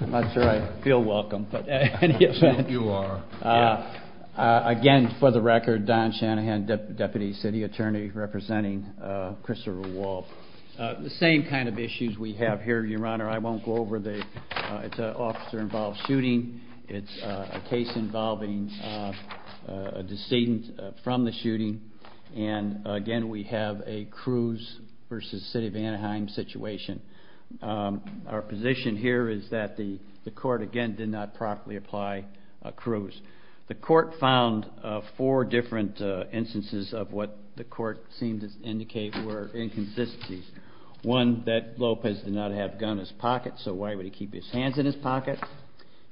I'm not sure I feel welcome. I think you are. Again, for the record, Don Shanahan, Deputy City Attorney representing Christopher Walb. The same kind of issues we have here, Your Honor. I won't go over them. It's an officer-involved shooting. It's a case involving a decedent from the shooting. Again, we have a Cruz v. City of Anaheim situation. Our position here is that the court, again, did not properly apply Cruz. The court found four different instances of what the court seemed to indicate were inconsistencies. One, that Lopez did not have a gun in his pocket, so why would he keep his hands in his pocket?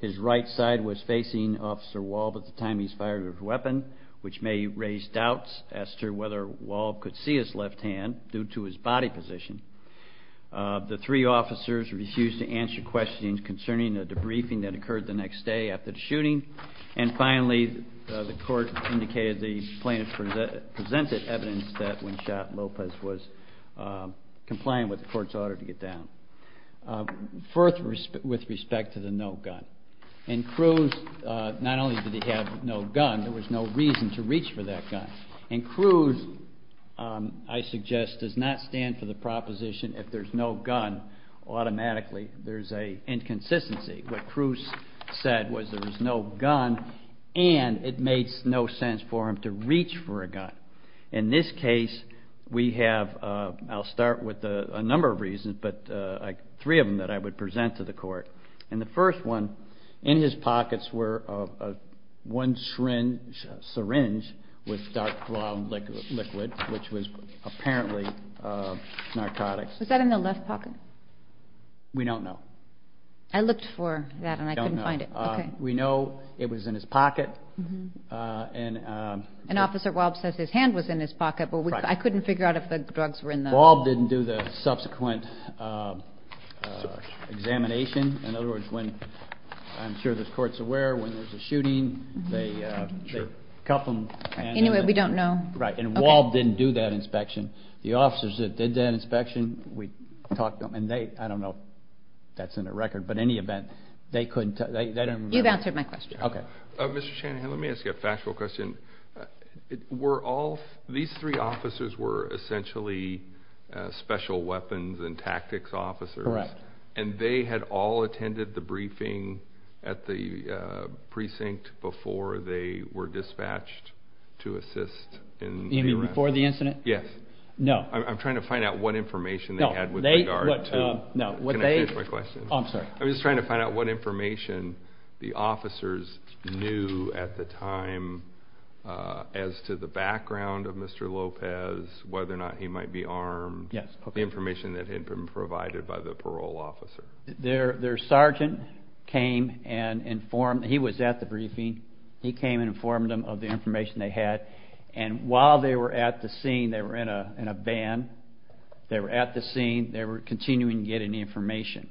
His right side was facing Officer Walb at the time he fired his weapon, which may raise doubts as to whether Walb could see his left hand due to his body position. The three officers refused to answer questions concerning the debriefing that occurred the next day after the shooting. And finally, the court indicated the plaintiff presented evidence that when shot, Lopez was compliant with the court's order to get down. First, with respect to the no gun. In Cruz, not only did he have no gun, there was no reason to reach for that gun. In Cruz, I suggest, does not stand for the proposition if there's no gun, automatically there's an inconsistency. What Cruz said was there was no gun and it made no sense for him to reach for a gun. In this case, we have, I'll start with a number of reasons, but three of them that I would present to the court. And the first one, in his pockets were one syringe with dark brown liquid, which was apparently narcotics. Was that in the left pocket? We don't know. I looked for that and I couldn't find it. We know it was in his pocket. And Officer Walb says his hand was in his pocket, but I couldn't figure out if the drugs were in the... Walb didn't do the subsequent examination. In other words, I'm sure the court's aware when there's a shooting, they cuff him. Anyway, we don't know. Right, and Walb didn't do that inspection. The officers that did that inspection, we talked to them, and I don't know if that's in the record, but in any event, they couldn't... You've answered my question. Okay. Mr. Shanahan, let me ask you a factual question. These three officers were essentially special weapons and tactics officers. Correct. And they had all attended the briefing at the precinct before they were dispatched to assist in the arrest? You mean before the incident? Yes. I'm trying to find out what information they had with regard to... No, they... Can I change my question? I'm sorry. I'm just trying to find out what information the officers knew at the time as to the background of Mr. Lopez, whether or not he might be armed, the information that had been provided by the parole officer. Their sergeant came and informed... He was at the briefing. He came and informed them of the information they had, and while they were at the scene, they were in a van. They were at the scene. They were continuing to get any information.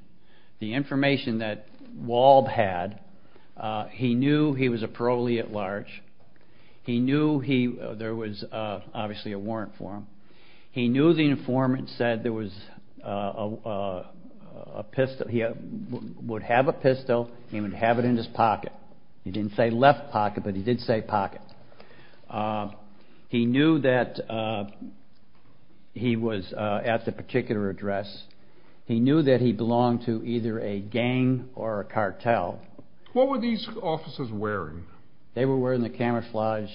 The information that Walb had, he knew he was a parolee at large. He knew there was obviously a warrant for him. He knew the informant said there was a pistol. He would have a pistol, and he would have it in his pocket. He didn't say left pocket, but he did say pocket. He knew that he was at the particular address. He knew that he belonged to either a gang or a cartel. What were these officers wearing? They were wearing the camouflage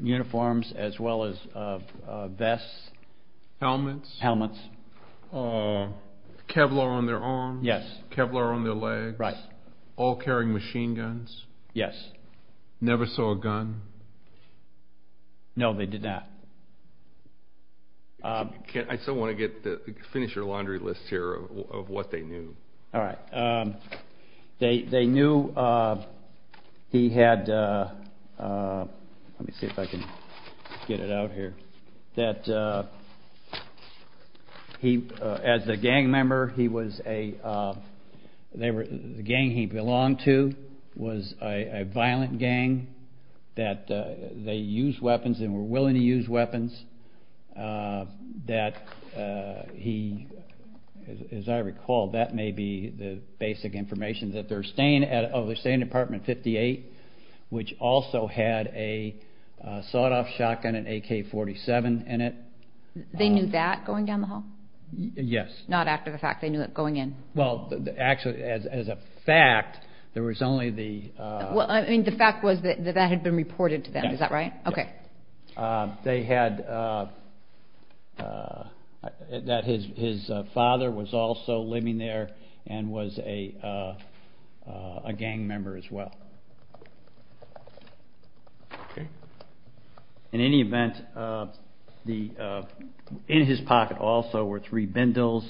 uniforms as well as vests. Helmets? Helmets. Kevlar on their arms? Yes. Kevlar on their legs? Right. All carrying machine guns? Yes. Never saw a gun? No, they did not. I still want to finish your laundry list here of what they knew. All right. They knew he had, let me see if I can get it out here, that as a gang member, the gang he belonged to was a violent gang. That they used weapons and were willing to use weapons. That he, as I recall, that may be the basic information, that they're staying at Department 58, which also had a sawed-off shotgun and AK-47 in it. They knew that going down the hall? Yes. Not after the fact, they knew it going in? Well, actually, as a fact, there was only the ---- Well, I mean, the fact was that that had been reported to them, is that right? Yes. Okay. They had, that his father was also living there and was a gang member as well. In any event, in his pocket also were three bindles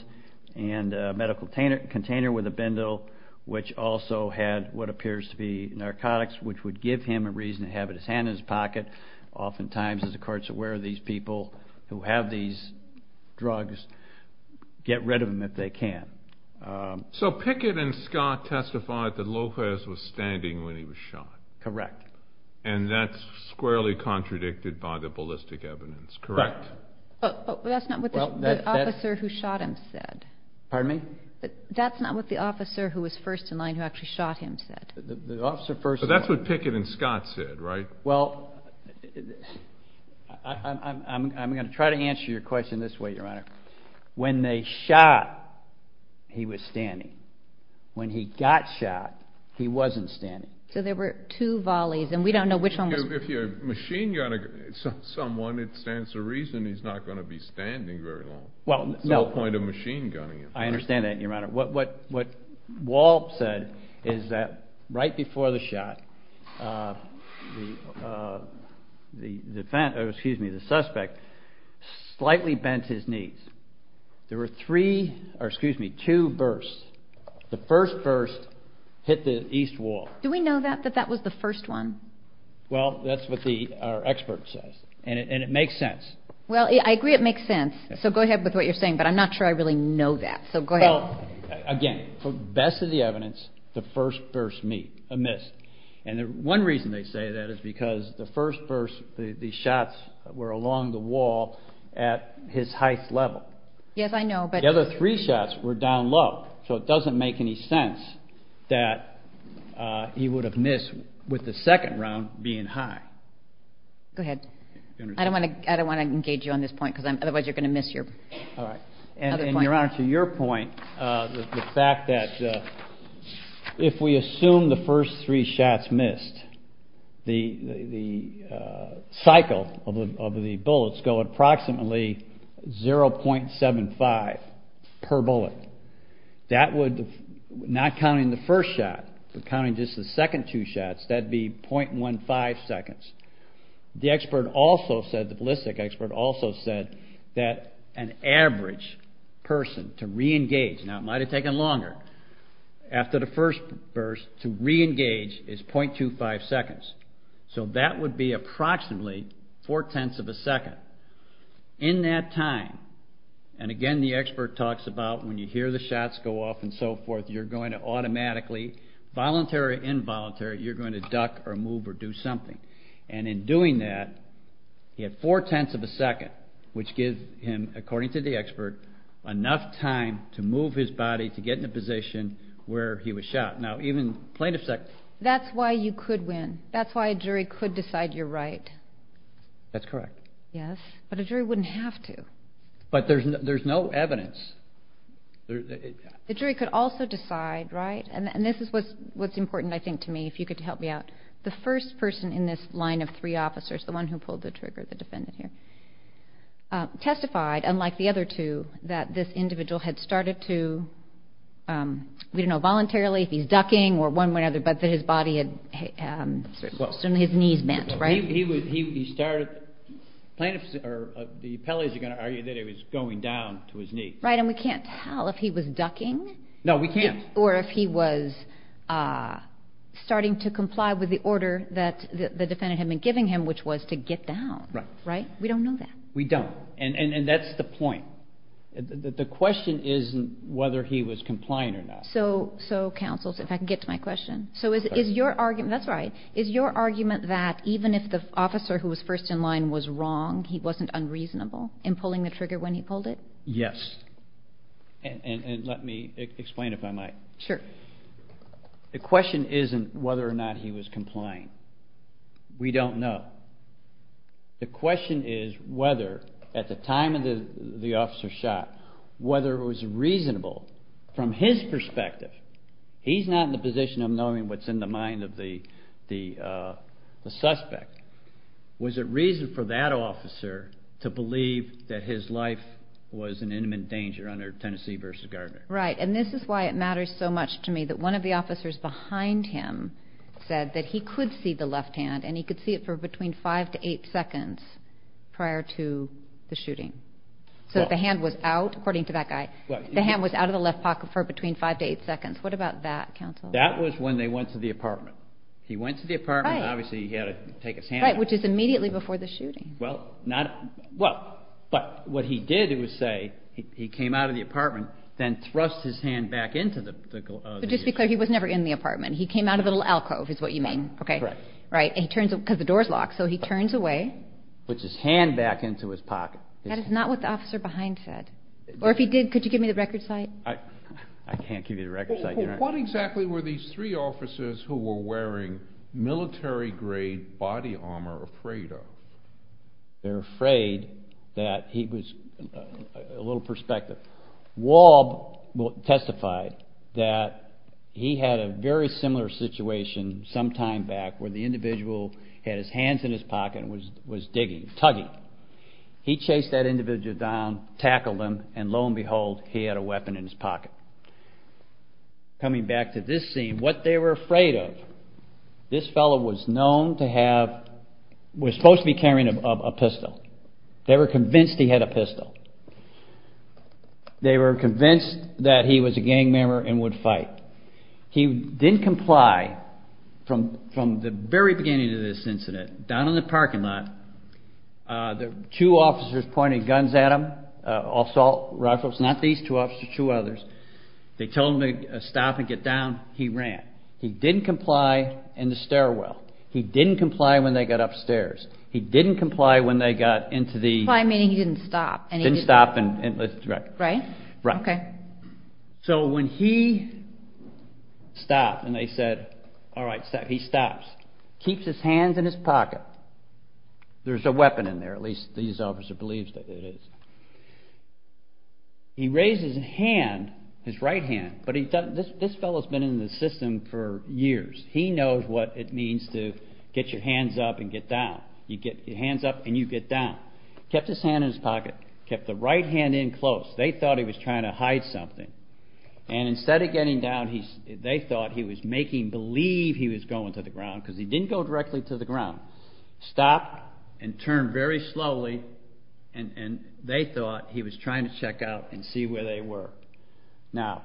and a medical container with a bindle, which also had what appears to be narcotics, which would give him a reason to have it in his hand and his pocket. Oftentimes, as the court's aware of these people who have these drugs, get rid of them if they can. So Pickett and Scott testified that Lopez was standing when he was shot? Correct. And that's squarely contradicted by the ballistic evidence, correct? That's not what the officer who shot him said. Pardon me? That's not what the officer who was first in line who actually shot him said? The officer first in line. So that's what Pickett and Scott said, right? Well, I'm going to try to answer your question this way, Your Honor. When they shot, he was standing. When he got shot, he wasn't standing. So there were two volleys, and we don't know which one was which. If you're a machine gunner, someone, it stands to reason he's not going to be standing very long. It's all a point of machine gunning. I understand that, Your Honor. What Walp said is that right before the shot, the suspect slightly bent his knees. There were two bursts. The first burst hit the east wall. Do we know that, that that was the first one? Well, that's what our expert says, and it makes sense. Well, I agree it makes sense. So go ahead with what you're saying, but I'm not sure I really know that. So go ahead. Well, again, for the best of the evidence, the first burst missed. And one reason they say that is because the first burst, the shots were along the wall at his highest level. Yes, I know. The other three shots were down low, so it doesn't make any sense that he would have missed with the second round being high. Go ahead. I don't want to engage you on this point, because otherwise you're going to miss your other point. Your Honor, to your point, the fact that if we assume the first three shots missed, the cycle of the bullets go approximately 0.75 per bullet. That would, not counting the first shot, but counting just the second two shots, that would be 0.15 seconds. The expert also said, the ballistic expert also said, that an average person to re-engage, now it might have taken longer after the first burst, to re-engage is 0.25 seconds. So that would be approximately four-tenths of a second. In that time, and again the expert talks about when you hear the shots go off and so forth, you're going to automatically, voluntary or involuntary, you're going to duck or move or do something. And in doing that, you have four-tenths of a second, which gives him, according to the expert, enough time to move his body to get in a position where he was shot. Now, even plaintiff's... That's why you could win. That's why a jury could decide you're right. That's correct. Yes, but a jury wouldn't have to. But there's no evidence. The jury could also decide, right, and this is what's important, I think, to me, if you could help me out. The first person in this line of three officers, the one who pulled the trigger, the defendant here, testified, unlike the other two, that this individual had started to, we don't know voluntarily if he's ducking or one way or the other, but that his body had, certainly his knees bent, right? He started, plaintiffs or the appellees are going to argue that he was going down to his knee. Right, and we can't tell if he was ducking. No, we can't. Or if he was starting to comply with the order that the defendant had been giving him, which was to get down. Right. We don't know that. We don't, and that's the point. The question is whether he was complying or not. So, counsel, if I can get to my question. So is your argument, that's right, is your argument that even if the officer who was first in line was wrong, he wasn't unreasonable in pulling the trigger when he pulled it? Yes. And let me explain if I might. Sure. The question isn't whether or not he was complying. We don't know. The question is whether at the time the officer shot, whether it was reasonable from his perspective, he's not in the position of knowing what's in the mind of the suspect, was it reason for that officer to believe that his life was in imminent danger under Tennessee v. Gardner? Right, and this is why it matters so much to me that one of the officers behind him said that he could see the left hand and he could see it for between five to eight seconds prior to the shooting. So the hand was out, according to that guy, the hand was out of the left pocket for between five to eight seconds. What about that, counsel? That was when they went to the apartment. He went to the apartment, obviously he had to take his hand out. Right, which is immediately before the shooting. Well, but what he did, it would say, he came out of the apartment, then thrust his hand back into the glove. Just to be clear, he was never in the apartment. He came out of a little alcove is what you mean. Right. Because the door's locked, so he turns away. Puts his hand back into his pocket. That is not what the officer behind said. Or if he did, could you give me the record site? I can't give you the record site. What exactly were these three officers who were wearing military-grade body armor afraid of? They were afraid that he was a little perspective. Waub testified that he had a very similar situation some time back where the individual had his hands in his pocket and was digging, tugging. He chased that individual down, tackled him, and lo and behold, he had a weapon in his pocket. Coming back to this scene, what they were afraid of, this fellow was known to have, was supposed to be carrying a pistol. They were convinced he had a pistol. They were convinced that he was a gang member and would fight. He didn't comply from the very beginning of this incident. Down in the parking lot, the two officers pointed guns at him, assault rifles. Not these two officers, two others. They told him to stop and get down. He ran. He didn't comply in the stairwell. He didn't comply when they got upstairs. He didn't comply when they got into the- Comply meaning he didn't stop. Didn't stop. Right. Right? Right. Okay. So when he stopped and they said, all right, he stops, keeps his hands in his pocket. There's a weapon in there, at least these officers believe that it is. He raises his hand, his right hand, but this fellow's been in the system for years. He knows what it means to get your hands up and get down. You get your hands up and you get down. Kept his hand in his pocket. Kept the right hand in close. They thought he was trying to hide something. And instead of getting down, they thought he was making believe he was going to the ground Stopped and turned very slowly. And they thought he was trying to check out and see where they were. Now,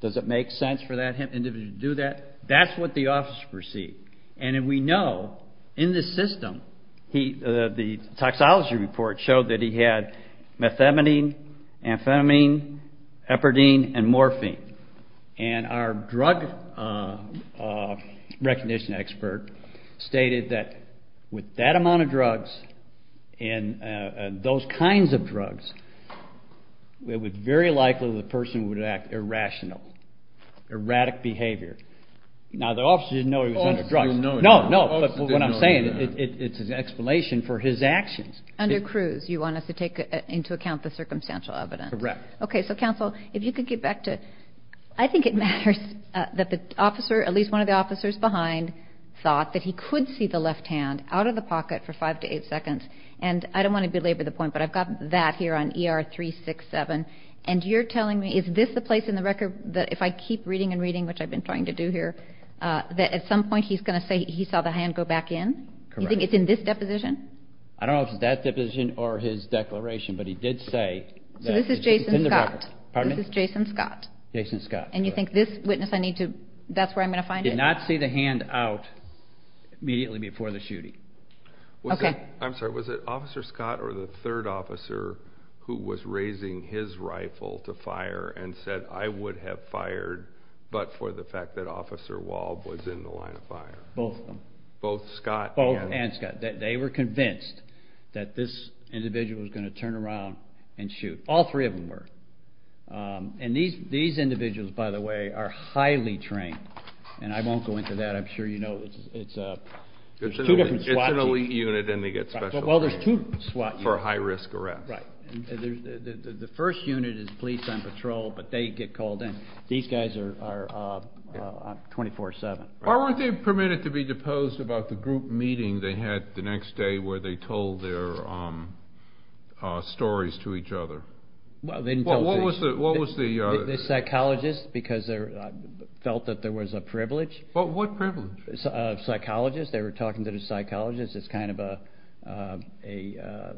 does it make sense for that individual to do that? That's what the officers perceived. And we know in the system, the toxology report showed that he had methamphetamine, amphetamine, heparidine, and morphine. And our drug recognition expert stated that with that amount of drugs and those kinds of drugs, it was very likely the person would act irrationally, erratic behavior. Now, the officers didn't know he was under drugs. No, no, but what I'm saying, it's an explanation for his actions. Under Cruz, you want us to take into account the circumstantial evidence. Correct. Okay, so, counsel, if you could get back to, I think it matters that the officer, at least one of the officers behind, thought that he could see the left hand out of the pocket for 5 to 8 seconds. And I don't want to belabor the point, but I've got that here on ER 367. And you're telling me, is this the place in the record that if I keep reading and reading, which I've been trying to do here, that at some point he's going to say he saw the hand go back in? Correct. You think it's in this deposition? I don't know if it's that deposition or his declaration, but he did say that this is Jason Scott. And you think this witness, that's where I'm going to find it? Did not see the hand out immediately before the shooting. Okay. I'm sorry, was it Officer Scott or the third officer who was raising his rifle to fire and said, I would have fired, but for the fact that Officer Walb was in the line of fire? Both of them. Both Scott and Walb? Both and Scott. They were convinced that this individual was going to turn around and shoot. All three of them were. And these individuals, by the way, are highly trained. And I won't go into that. I'm sure you know. It's an elite unit and they get special training for high-risk arrests. Right. The first unit is police and patrol, but they get called in. These guys are 24-7. Why weren't they permitted to be deposed about the group meeting they had the next day where they told their stories to each other? What was the? The psychologists, because they felt that there was a privilege. What privilege? Psychologists. They were talking to the psychologists. It's kind of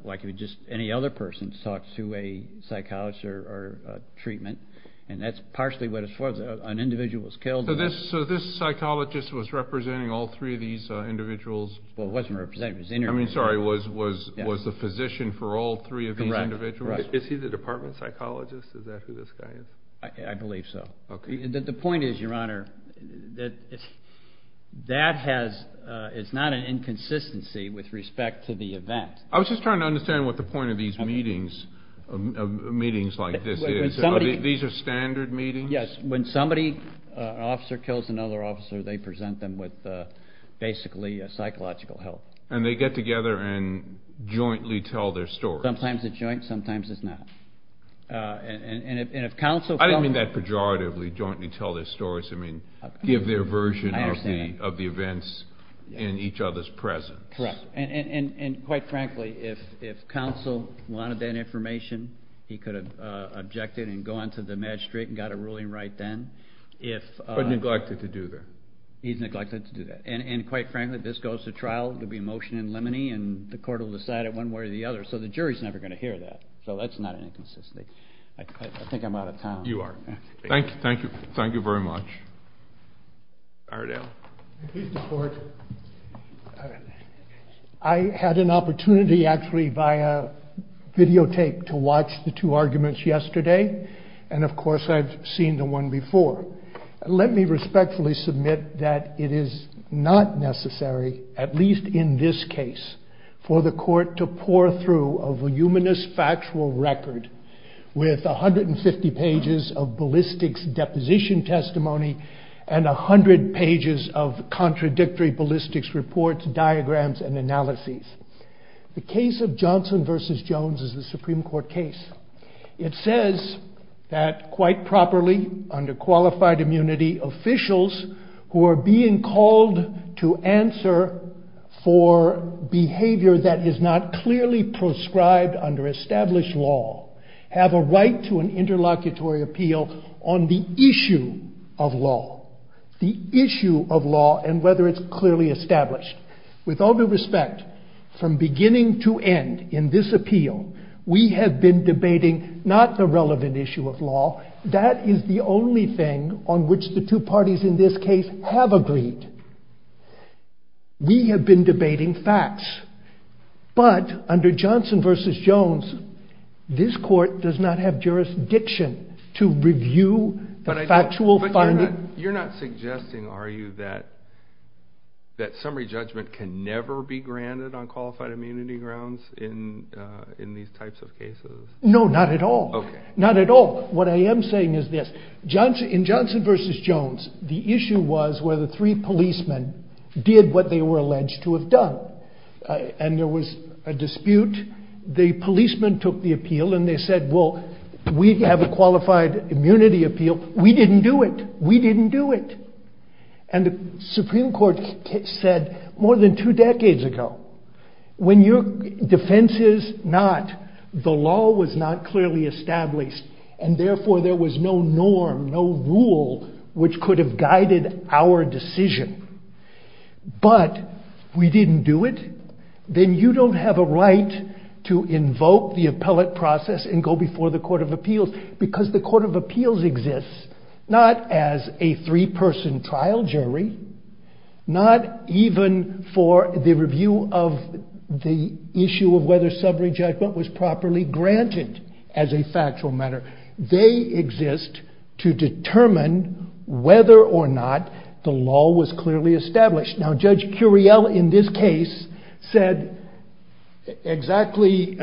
like any other person talks to a psychologist or treatment. And that's partially what it was for. An individual was killed. So this psychologist was representing all three of these individuals? Well, it wasn't representing. I mean, sorry, was the physician for all three of these individuals? Correct. Is he the department psychologist? Is that who this guy is? I believe so. Okay. The point is, Your Honor, that it's not an inconsistency with respect to the event. I was just trying to understand what the point of these meetings like this is. These are standard meetings? Yes. When somebody, an officer kills another officer, they present them with basically psychological help. And they get together and jointly tell their stories? Sometimes it's joint, sometimes it's not. I didn't mean that pejoratively, jointly tell their stories. I mean give their version of the events in each other's presence. Correct. And quite frankly, if counsel wanted that information, he could have objected and gone to the magistrate and got a ruling right then. But neglected to do that. He's neglected to do that. And quite frankly, if this goes to trial, there will be a motion in limine and the court will decide it one way or the other. So the jury is never going to hear that. So that's not an inconsistency. I think I'm out of time. You are. Thank you very much. Ardell. Mr. Court, I had an opportunity actually via videotape to watch the two arguments yesterday. And of course I've seen the one before. Let me respectfully submit that it is not necessary, at least in this case, for the court to pour through a voluminous factual record with 150 pages of ballistics deposition testimony and 100 pages of contradictory ballistics reports, diagrams, and analyses. The case of Johnson v. Jones is a Supreme Court case. It says that quite properly, under qualified immunity, officials who are being called to answer for behavior that is not clearly prescribed under established law have a right to an interlocutory appeal on the issue of law. The issue of law and whether it's clearly established. With all due respect, from beginning to end in this appeal, we have been debating not the relevant issue of law. That is the only thing on which the two parties in this case have agreed. We have been debating facts. But under Johnson v. Jones, this court does not have jurisdiction to review the factual findings. You're not suggesting, are you, that summary judgment can never be granted on qualified immunity grounds in these types of cases? No, not at all. Not at all. What I am saying is this. In Johnson v. Jones, the issue was whether three policemen did what they were alleged to have done. And there was a dispute. The policemen took the appeal and they said, well, we have a qualified immunity appeal. We didn't do it. We didn't do it. And the Supreme Court said more than two decades ago, when your defense is not the law was not clearly established and therefore there was no norm, no rule, which could have guided our decision, but we didn't do it, then you don't have a right to invoke the appellate process and go before the Court of Appeals. Because the Court of Appeals exists not as a three-person trial jury, not even for the review of the issue of whether summary judgment was properly granted as a factual matter. They exist to determine whether or not the law was clearly established. Now Judge Curiel in this case said exactly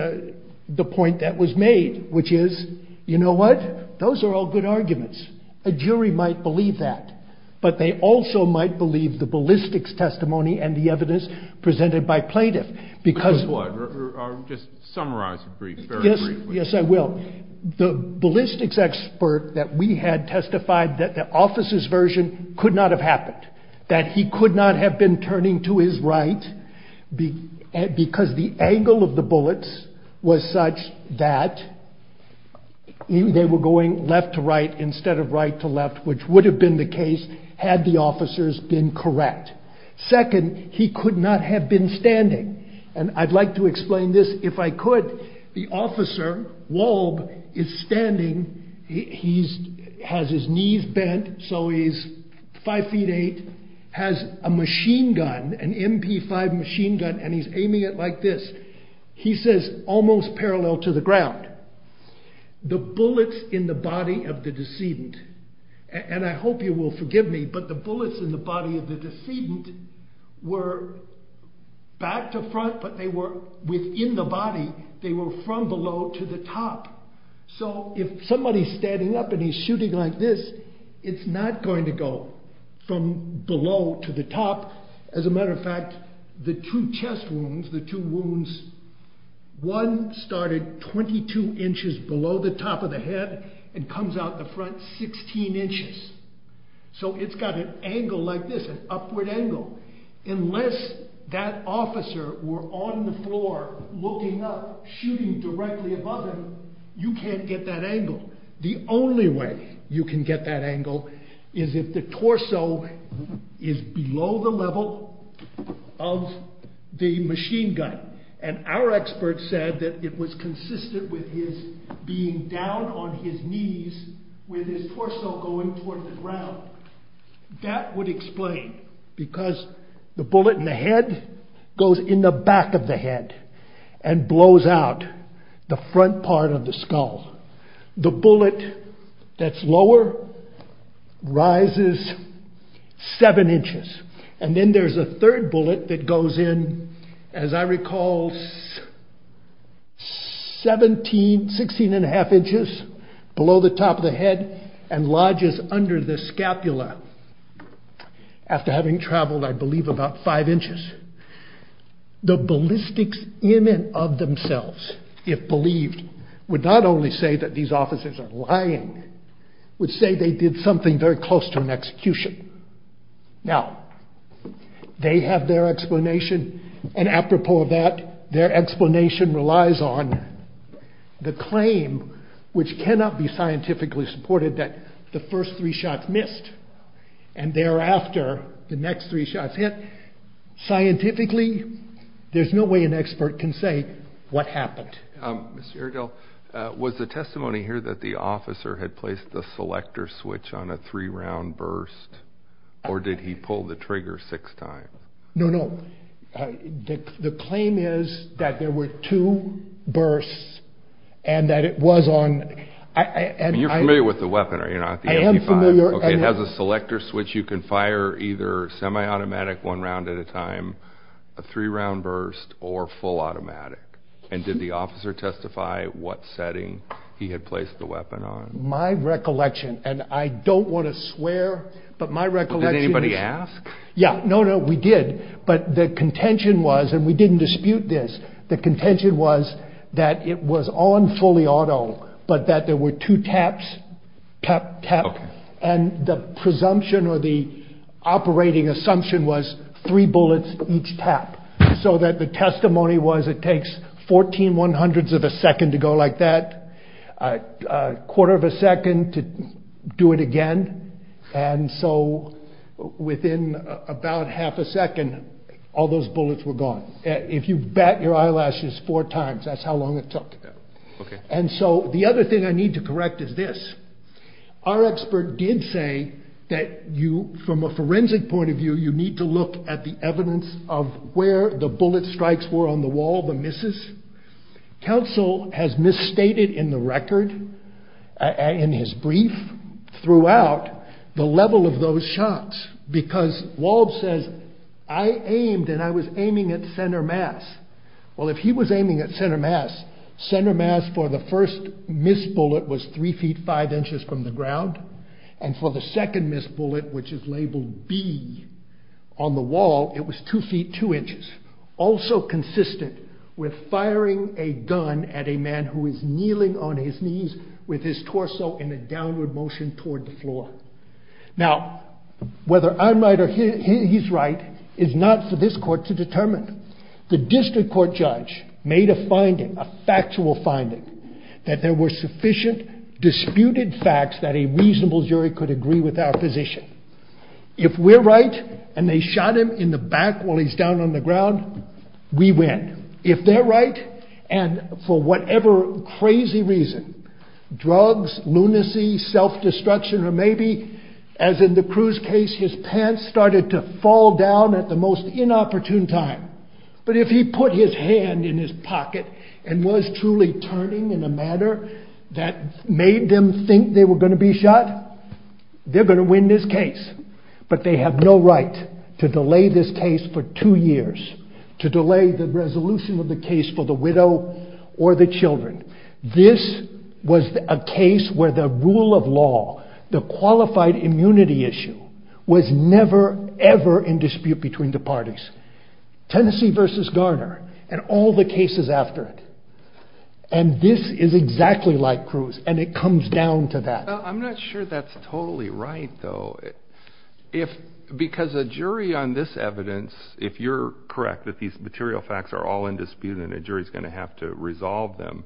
the point that was made, which is, you know what, those are all good arguments. A jury might believe that, but they also might believe the ballistics testimony and the evidence presented by plaintiff. Because what? Just summarize it briefly. Yes, I will. The ballistics expert that we had testified that the officer's version could not have happened, that he could not have been turning to his right because the angle of the bullets was such that they were going left to right instead of right to left, which would have been the case had the officers been correct. Second, he could not have been standing. And I'd like to explain this if I could. The officer, Wolb, is standing, he has his knees bent, so he's five feet eight, has a machine gun, an MP5 machine gun, and he's aiming it like this. He says, almost parallel to the ground, the bullets in the body of the decedent, and I hope you will forgive me, but the bullets in the body of the decedent were back to front, but they were within the body. They were from below to the top. So if somebody's standing up and he's shooting like this, it's not going to go from below to the top. As a matter of fact, the two chest wounds, the two wounds, one started 22 inches below the top of the head and comes out the front 16 inches. So it's got an angle like this, an upward angle. Unless that officer were on the floor looking up, shooting directly above him, you can't get that angle. The only way you can get that angle is if the torso is below the level of the machine gun. And our expert said that it was consistent with his being down on his knees with his torso going toward the ground. That would explain, because the bullet in the head goes in the back of the head and blows out the front part of the skull. The bullet that's lower rises 7 inches. And then there's a third bullet that goes in, as I recall, 16 and a half inches below the top of the head and lodges under the scapula. After having traveled, I believe, about 5 inches. The ballistics in and of themselves, if believed, would not only say that these officers are lying, would say they did something very close to an execution. Now, they have their explanation, and apropos of that, their explanation relies on the claim which cannot be scientifically supported that the first three shots missed and thereafter the next three shots hit. Scientifically, there's no way an expert can say what happened. Mr. Urgell, was the testimony here that the officer had placed the selector switch on a three-round burst, or did he pull the trigger six times? No, no. The claim is that there were two bursts and that it was on... You're familiar with the weapon, are you not? I am familiar. Okay, it has a selector switch. You can fire either semi-automatic, one round at a time, a three-round burst, or full automatic. Did the officer testify what setting he had placed the weapon on? My recollection, and I don't want to swear, but my recollection is... Did anybody ask? Yeah, no, no, we did, but the contention was, and we didn't dispute this, the contention was that it was on fully auto, but that there were two taps, tap, tap, and the presumption or the operating assumption was three bullets each tap, so that the testimony was it takes 14 one-hundredths of a second to go like that, a quarter of a second to do it again, and so within about half a second, all those bullets were gone. If you bat your eyelashes four times, that's how long it took. And so the other thing I need to correct is this. Our expert did say that you, from a forensic point of view, you need to look at the evidence of where the bullet strikes were on the wall, the misses. Counsel has misstated in the record, in his brief, throughout the level of those shots, because Wald says, I aimed and I was aiming at center mass. Well, if he was aiming at center mass, center mass for the first missed bullet was three feet five inches from the ground, and for the second missed bullet, which is labeled B on the wall, it was two feet two inches, also consistent with firing a gun at a man who is kneeling on his knees with his torso in a downward motion toward the floor. Now, whether I'm right or he's right is not for this court to determine. The district court judge made a finding, a factual finding, that there were sufficient disputed facts that a reasonable jury could agree with our position. If we're right, and they shot him in the back while he's down on the ground, we win. If they're right, and for whatever crazy reason, drugs, lunacy, self-destruction, or maybe, as in the Cruz case, his pants started to fall down at the most inopportune time, but if he put his hand in his pocket and was truly turning in a manner that made them think they were going to be shot, they're going to win this case. But they have no right to delay this case for two years, to delay the resolution of the case for the widow or the children. This was a case where the rule of law, the qualified immunity issue, was never, ever in dispute between the parties. Tennessee versus Garner, and all the cases after it. And this is exactly like Cruz, and it comes down to that. I'm not sure that's totally right, though. Because a jury on this evidence, if you're correct that these material facts are all in dispute and a jury's going to have to resolve them,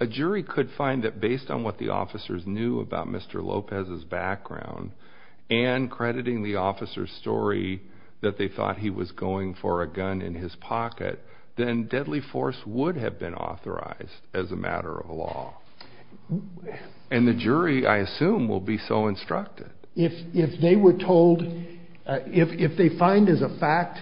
a jury could find that based on what the officers knew about Mr. Lopez's background and crediting the officers' story that they thought he was going for a gun in his pocket, then deadly force would have been authorized as a matter of law. And the jury, I assume, will be so instructed. If they were told, if they find as a fact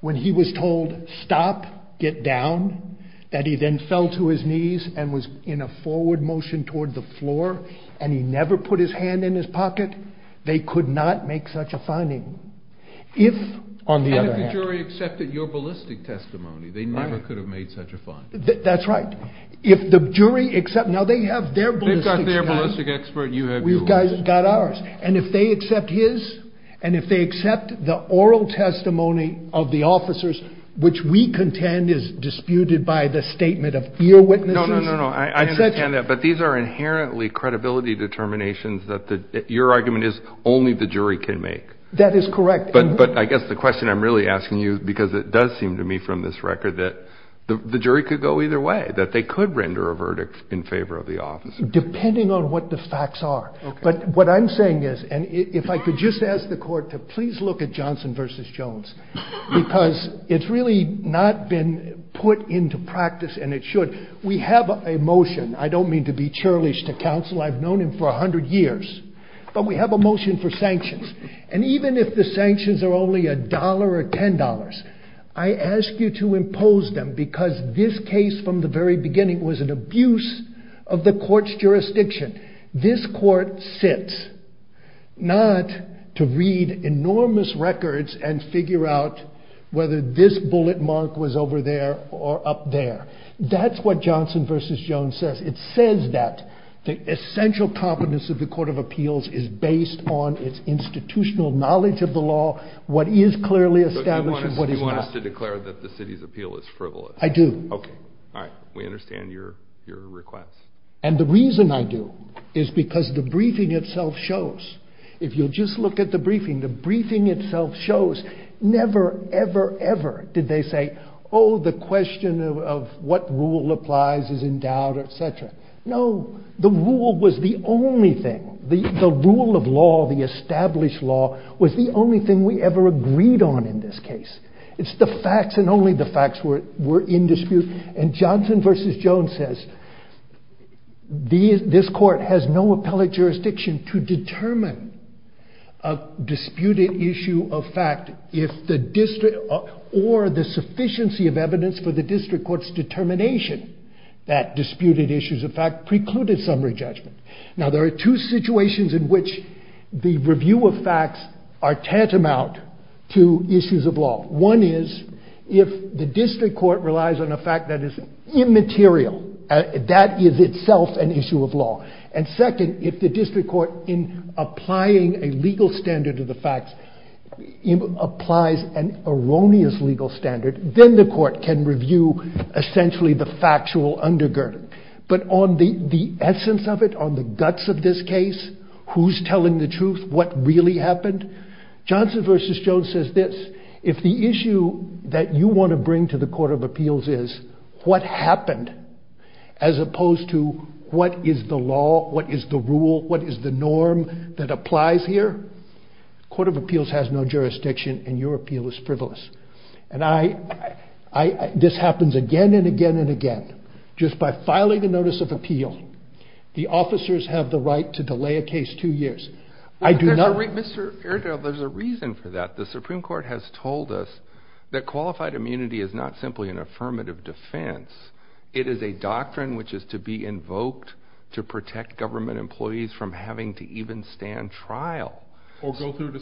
when he was told, stop, get down, that he then fell to his knees and was in a forward motion toward the floor and he never put his hand in his pocket, they could not make such a finding. And if the jury accepted your ballistic testimony, they never could have made such a finding. That's right. They've got their ballistic expert, you have yours. And if they accept his, and if they accept the oral testimony of the officers, which we contend is disputed by the statement of earwitnesses... No, no, no, I understand that. But these are inherently credibility determinations that your argument is only the jury can make. That is correct. But I guess the question I'm really asking you, because it does seem to me from this record, that the jury could go either way, that they could render a verdict in favor of the officers. Depending on what the facts are. But what I'm saying is, and if I could just ask the court to please look at Johnson v. Jones, because it's really not been put into practice, and it should. We have a motion, I don't mean to be churlish to counsel, I've known him for 100 years, but we have a motion for sanctions. And even if the sanctions are only $1 or $10, I ask you to impose them, because this case from the very beginning was an abuse of the court's jurisdiction. This court sits, not to read enormous records and figure out whether this bullet mark was over there or up there. That's what Johnson v. Jones says. It says that the essential competence of the Court of Appeals is based on its institutional knowledge of the law, what is clearly established and what is not. I ask to declare that the city's appeal is frivolous. I do. We understand your request. And the reason I do is because the briefing itself shows, if you'll just look at the briefing, the briefing itself shows never, ever, ever did they say, oh, the question of what rule applies is in doubt, etc. No, the rule was the only thing, the rule of law, the established law, was the only thing we ever agreed on in this case. It's the facts and only the facts were in dispute. And Johnson v. Jones says, this court has no appellate jurisdiction to determine a disputed issue of fact or the sufficiency of evidence for the district court's determination that disputed issues of fact precluded summary judgment. Now, there are two situations in which the review of facts are tantamount to issues of law. One is if the district court relies on a fact that is immaterial, that is itself an issue of law. And second, if the district court in applying a legal standard to the facts applies an erroneous legal standard, then the court can review essentially the factual undergirding. But on the essence of it, on the guts of this case, who's telling the truth, what really happened, Johnson v. Jones says this, if the issue that you want to bring to the Court of Appeals is what happened as opposed to what is the law, what is the rule, what is the norm that applies here, the Court of Appeals has no jurisdiction and your appeal is frivolous. This happens again and again and again. Just by filing a notice of appeal, the officers have the right to delay a case two years. I do not... There's a reason for that. The Supreme Court has told us that qualified immunity is not simply an affirmative defense. It is a doctrine which is to be invoked to protect government employees from having to even stand trial. Or go through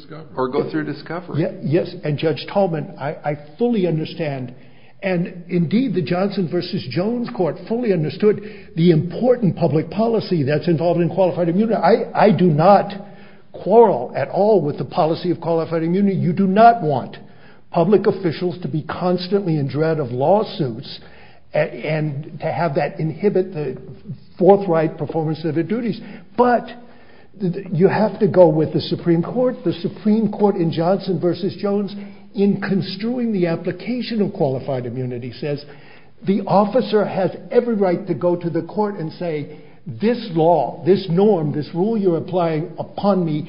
discovery. Yes, and Judge Tallman, I fully understand and indeed the Johnson v. Jones Court fully understood the important public policy that's involved in qualified immunity. I do not quarrel at all with the policy of qualified immunity. You do not want public officials to be constantly in dread of lawsuits and to have that inhibit the forthright performance of their duties. But you have to go with the Supreme Court. The Supreme Court in Johnson v. Jones in construing the application of qualified immunity says the officer has every right to go to the court and say this law, this norm, this rule you're applying upon me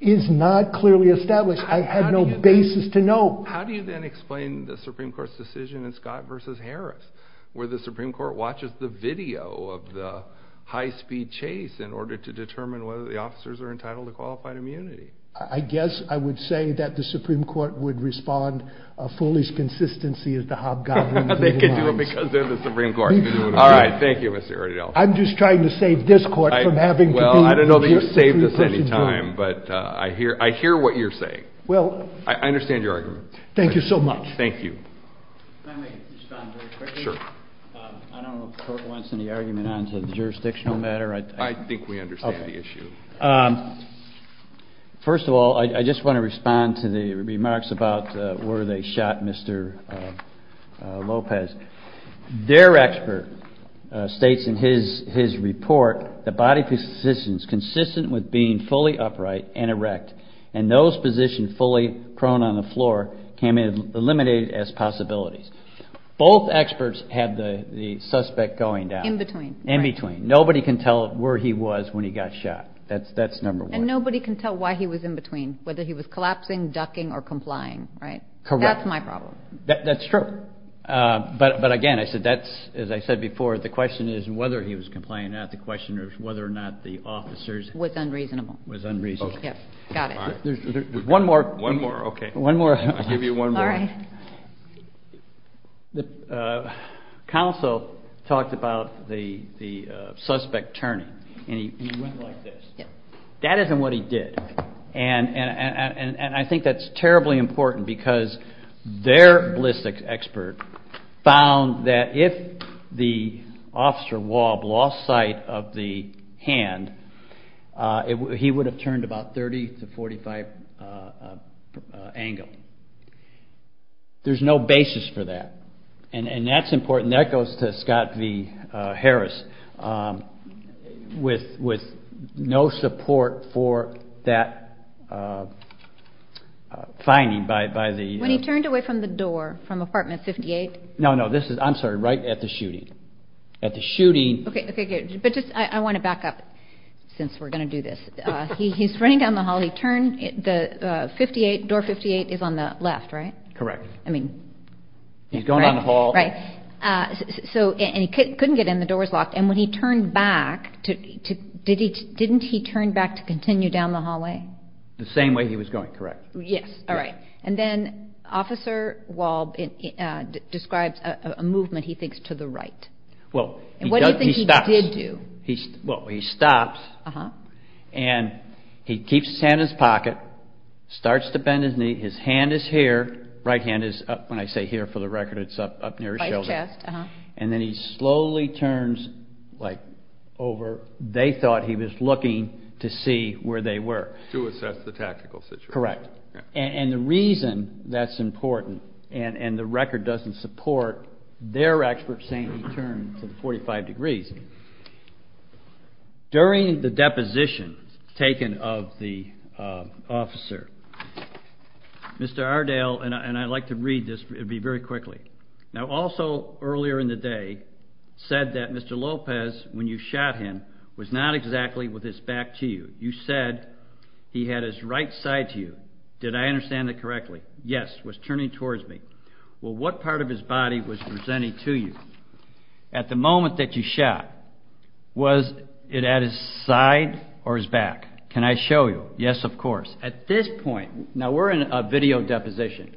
is not clearly established. I have no basis to know. How do you then explain the Supreme Court's decision in Scott v. Harris where the Supreme Court watches the video of the high-speed chase in order to determine whether the officers are entitled to qualified immunity? I guess I would say that the Supreme Court would respond fully to consistency as the Hobgoblin. They could do it because they're the Supreme Court. I'm just trying to save this court from having to be Well, I don't know that you've saved us any time but I hear what you're saying. I understand your argument. Thank you so much. I don't know if the court wants any argument on the jurisdictional matter. I think we understand the issue. First of all, I just want to respond to the remarks about where they shot Mr. Lopez. Their expert states in his report that body positions consistent with being fully upright and erect and those positions fully prone on the floor can be eliminated as possibilities. Both experts have the suspect going down. In between. Nobody can tell where he was when he got shot. That's number one. And nobody can tell why he was in between. Whether he was collapsing, ducking, or complying. That's my problem. That's true. But again, as I said before, the question is whether he was complying or not. It was unreasonable. One more. I'll give you one more. The counsel talked about the suspect turning and he went like this. That isn't what he did. And I think that's terribly important because their Blissex expert found that if the officer lost sight of the hand, he would have turned about 30 to 45 degrees. There's no basis for that. And that's important. That goes to Scott V. Harris. With no support for that finding. When he turned away from the door from apartment 58? Right at the shooting. I want to back up. He's running down the hall. Door 58 is on the left, right? Correct. He couldn't get in. The door was locked. Didn't he turn back to continue down the hallway? The same way he was going. He stopped. He keeps his hand in his pocket. Starts to bend his knee. His right hand is up near his shoulder. And then he slowly turns over. They thought he was looking to see where they were. To assess the tactical situation. Correct. And the reason that's important and the record doesn't support their expert saying he turned to 45 degrees, during the deposition taken of the officer, Mr. Ardale, and I'd like to read this, it would be very quickly. Now also earlier in the day said that Mr. Lopez, when you shot him, was not exactly with his back to you. You said he had his right side to you. Did I understand that correctly? Yes. What part of his body was presenting to you? At the moment that you shot, was it at his side or his back? Can I show you? Yes, of course. At this point, now we're in a video deposition,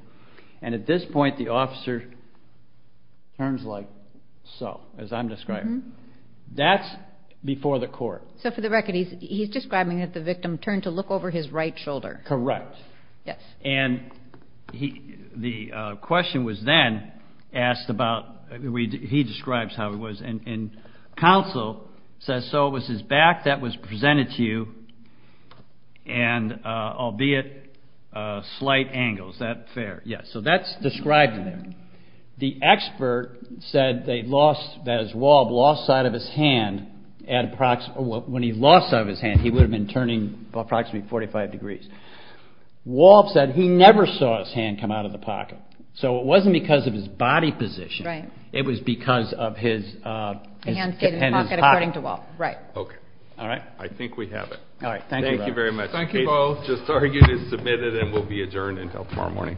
and at this point the officer turns like so, as I'm describing. That's before the court. So for the record, he's describing that the victim turned to look over his right shoulder. Correct. And the question was then asked about, he describes how it was, and counsel says so it was his back that was presented to you, and albeit slight angles. Was that fair? Yes. So that's described there. The expert said that when he lost sight of his hand, he would have been turning approximately 45 degrees. He never saw his hand come out of the pocket. So it wasn't because of his body position, it was because of his pocket. I think we have it. Thank you very much. Thank you both. This argument is submitted and will be adjourned until tomorrow morning. Thank you.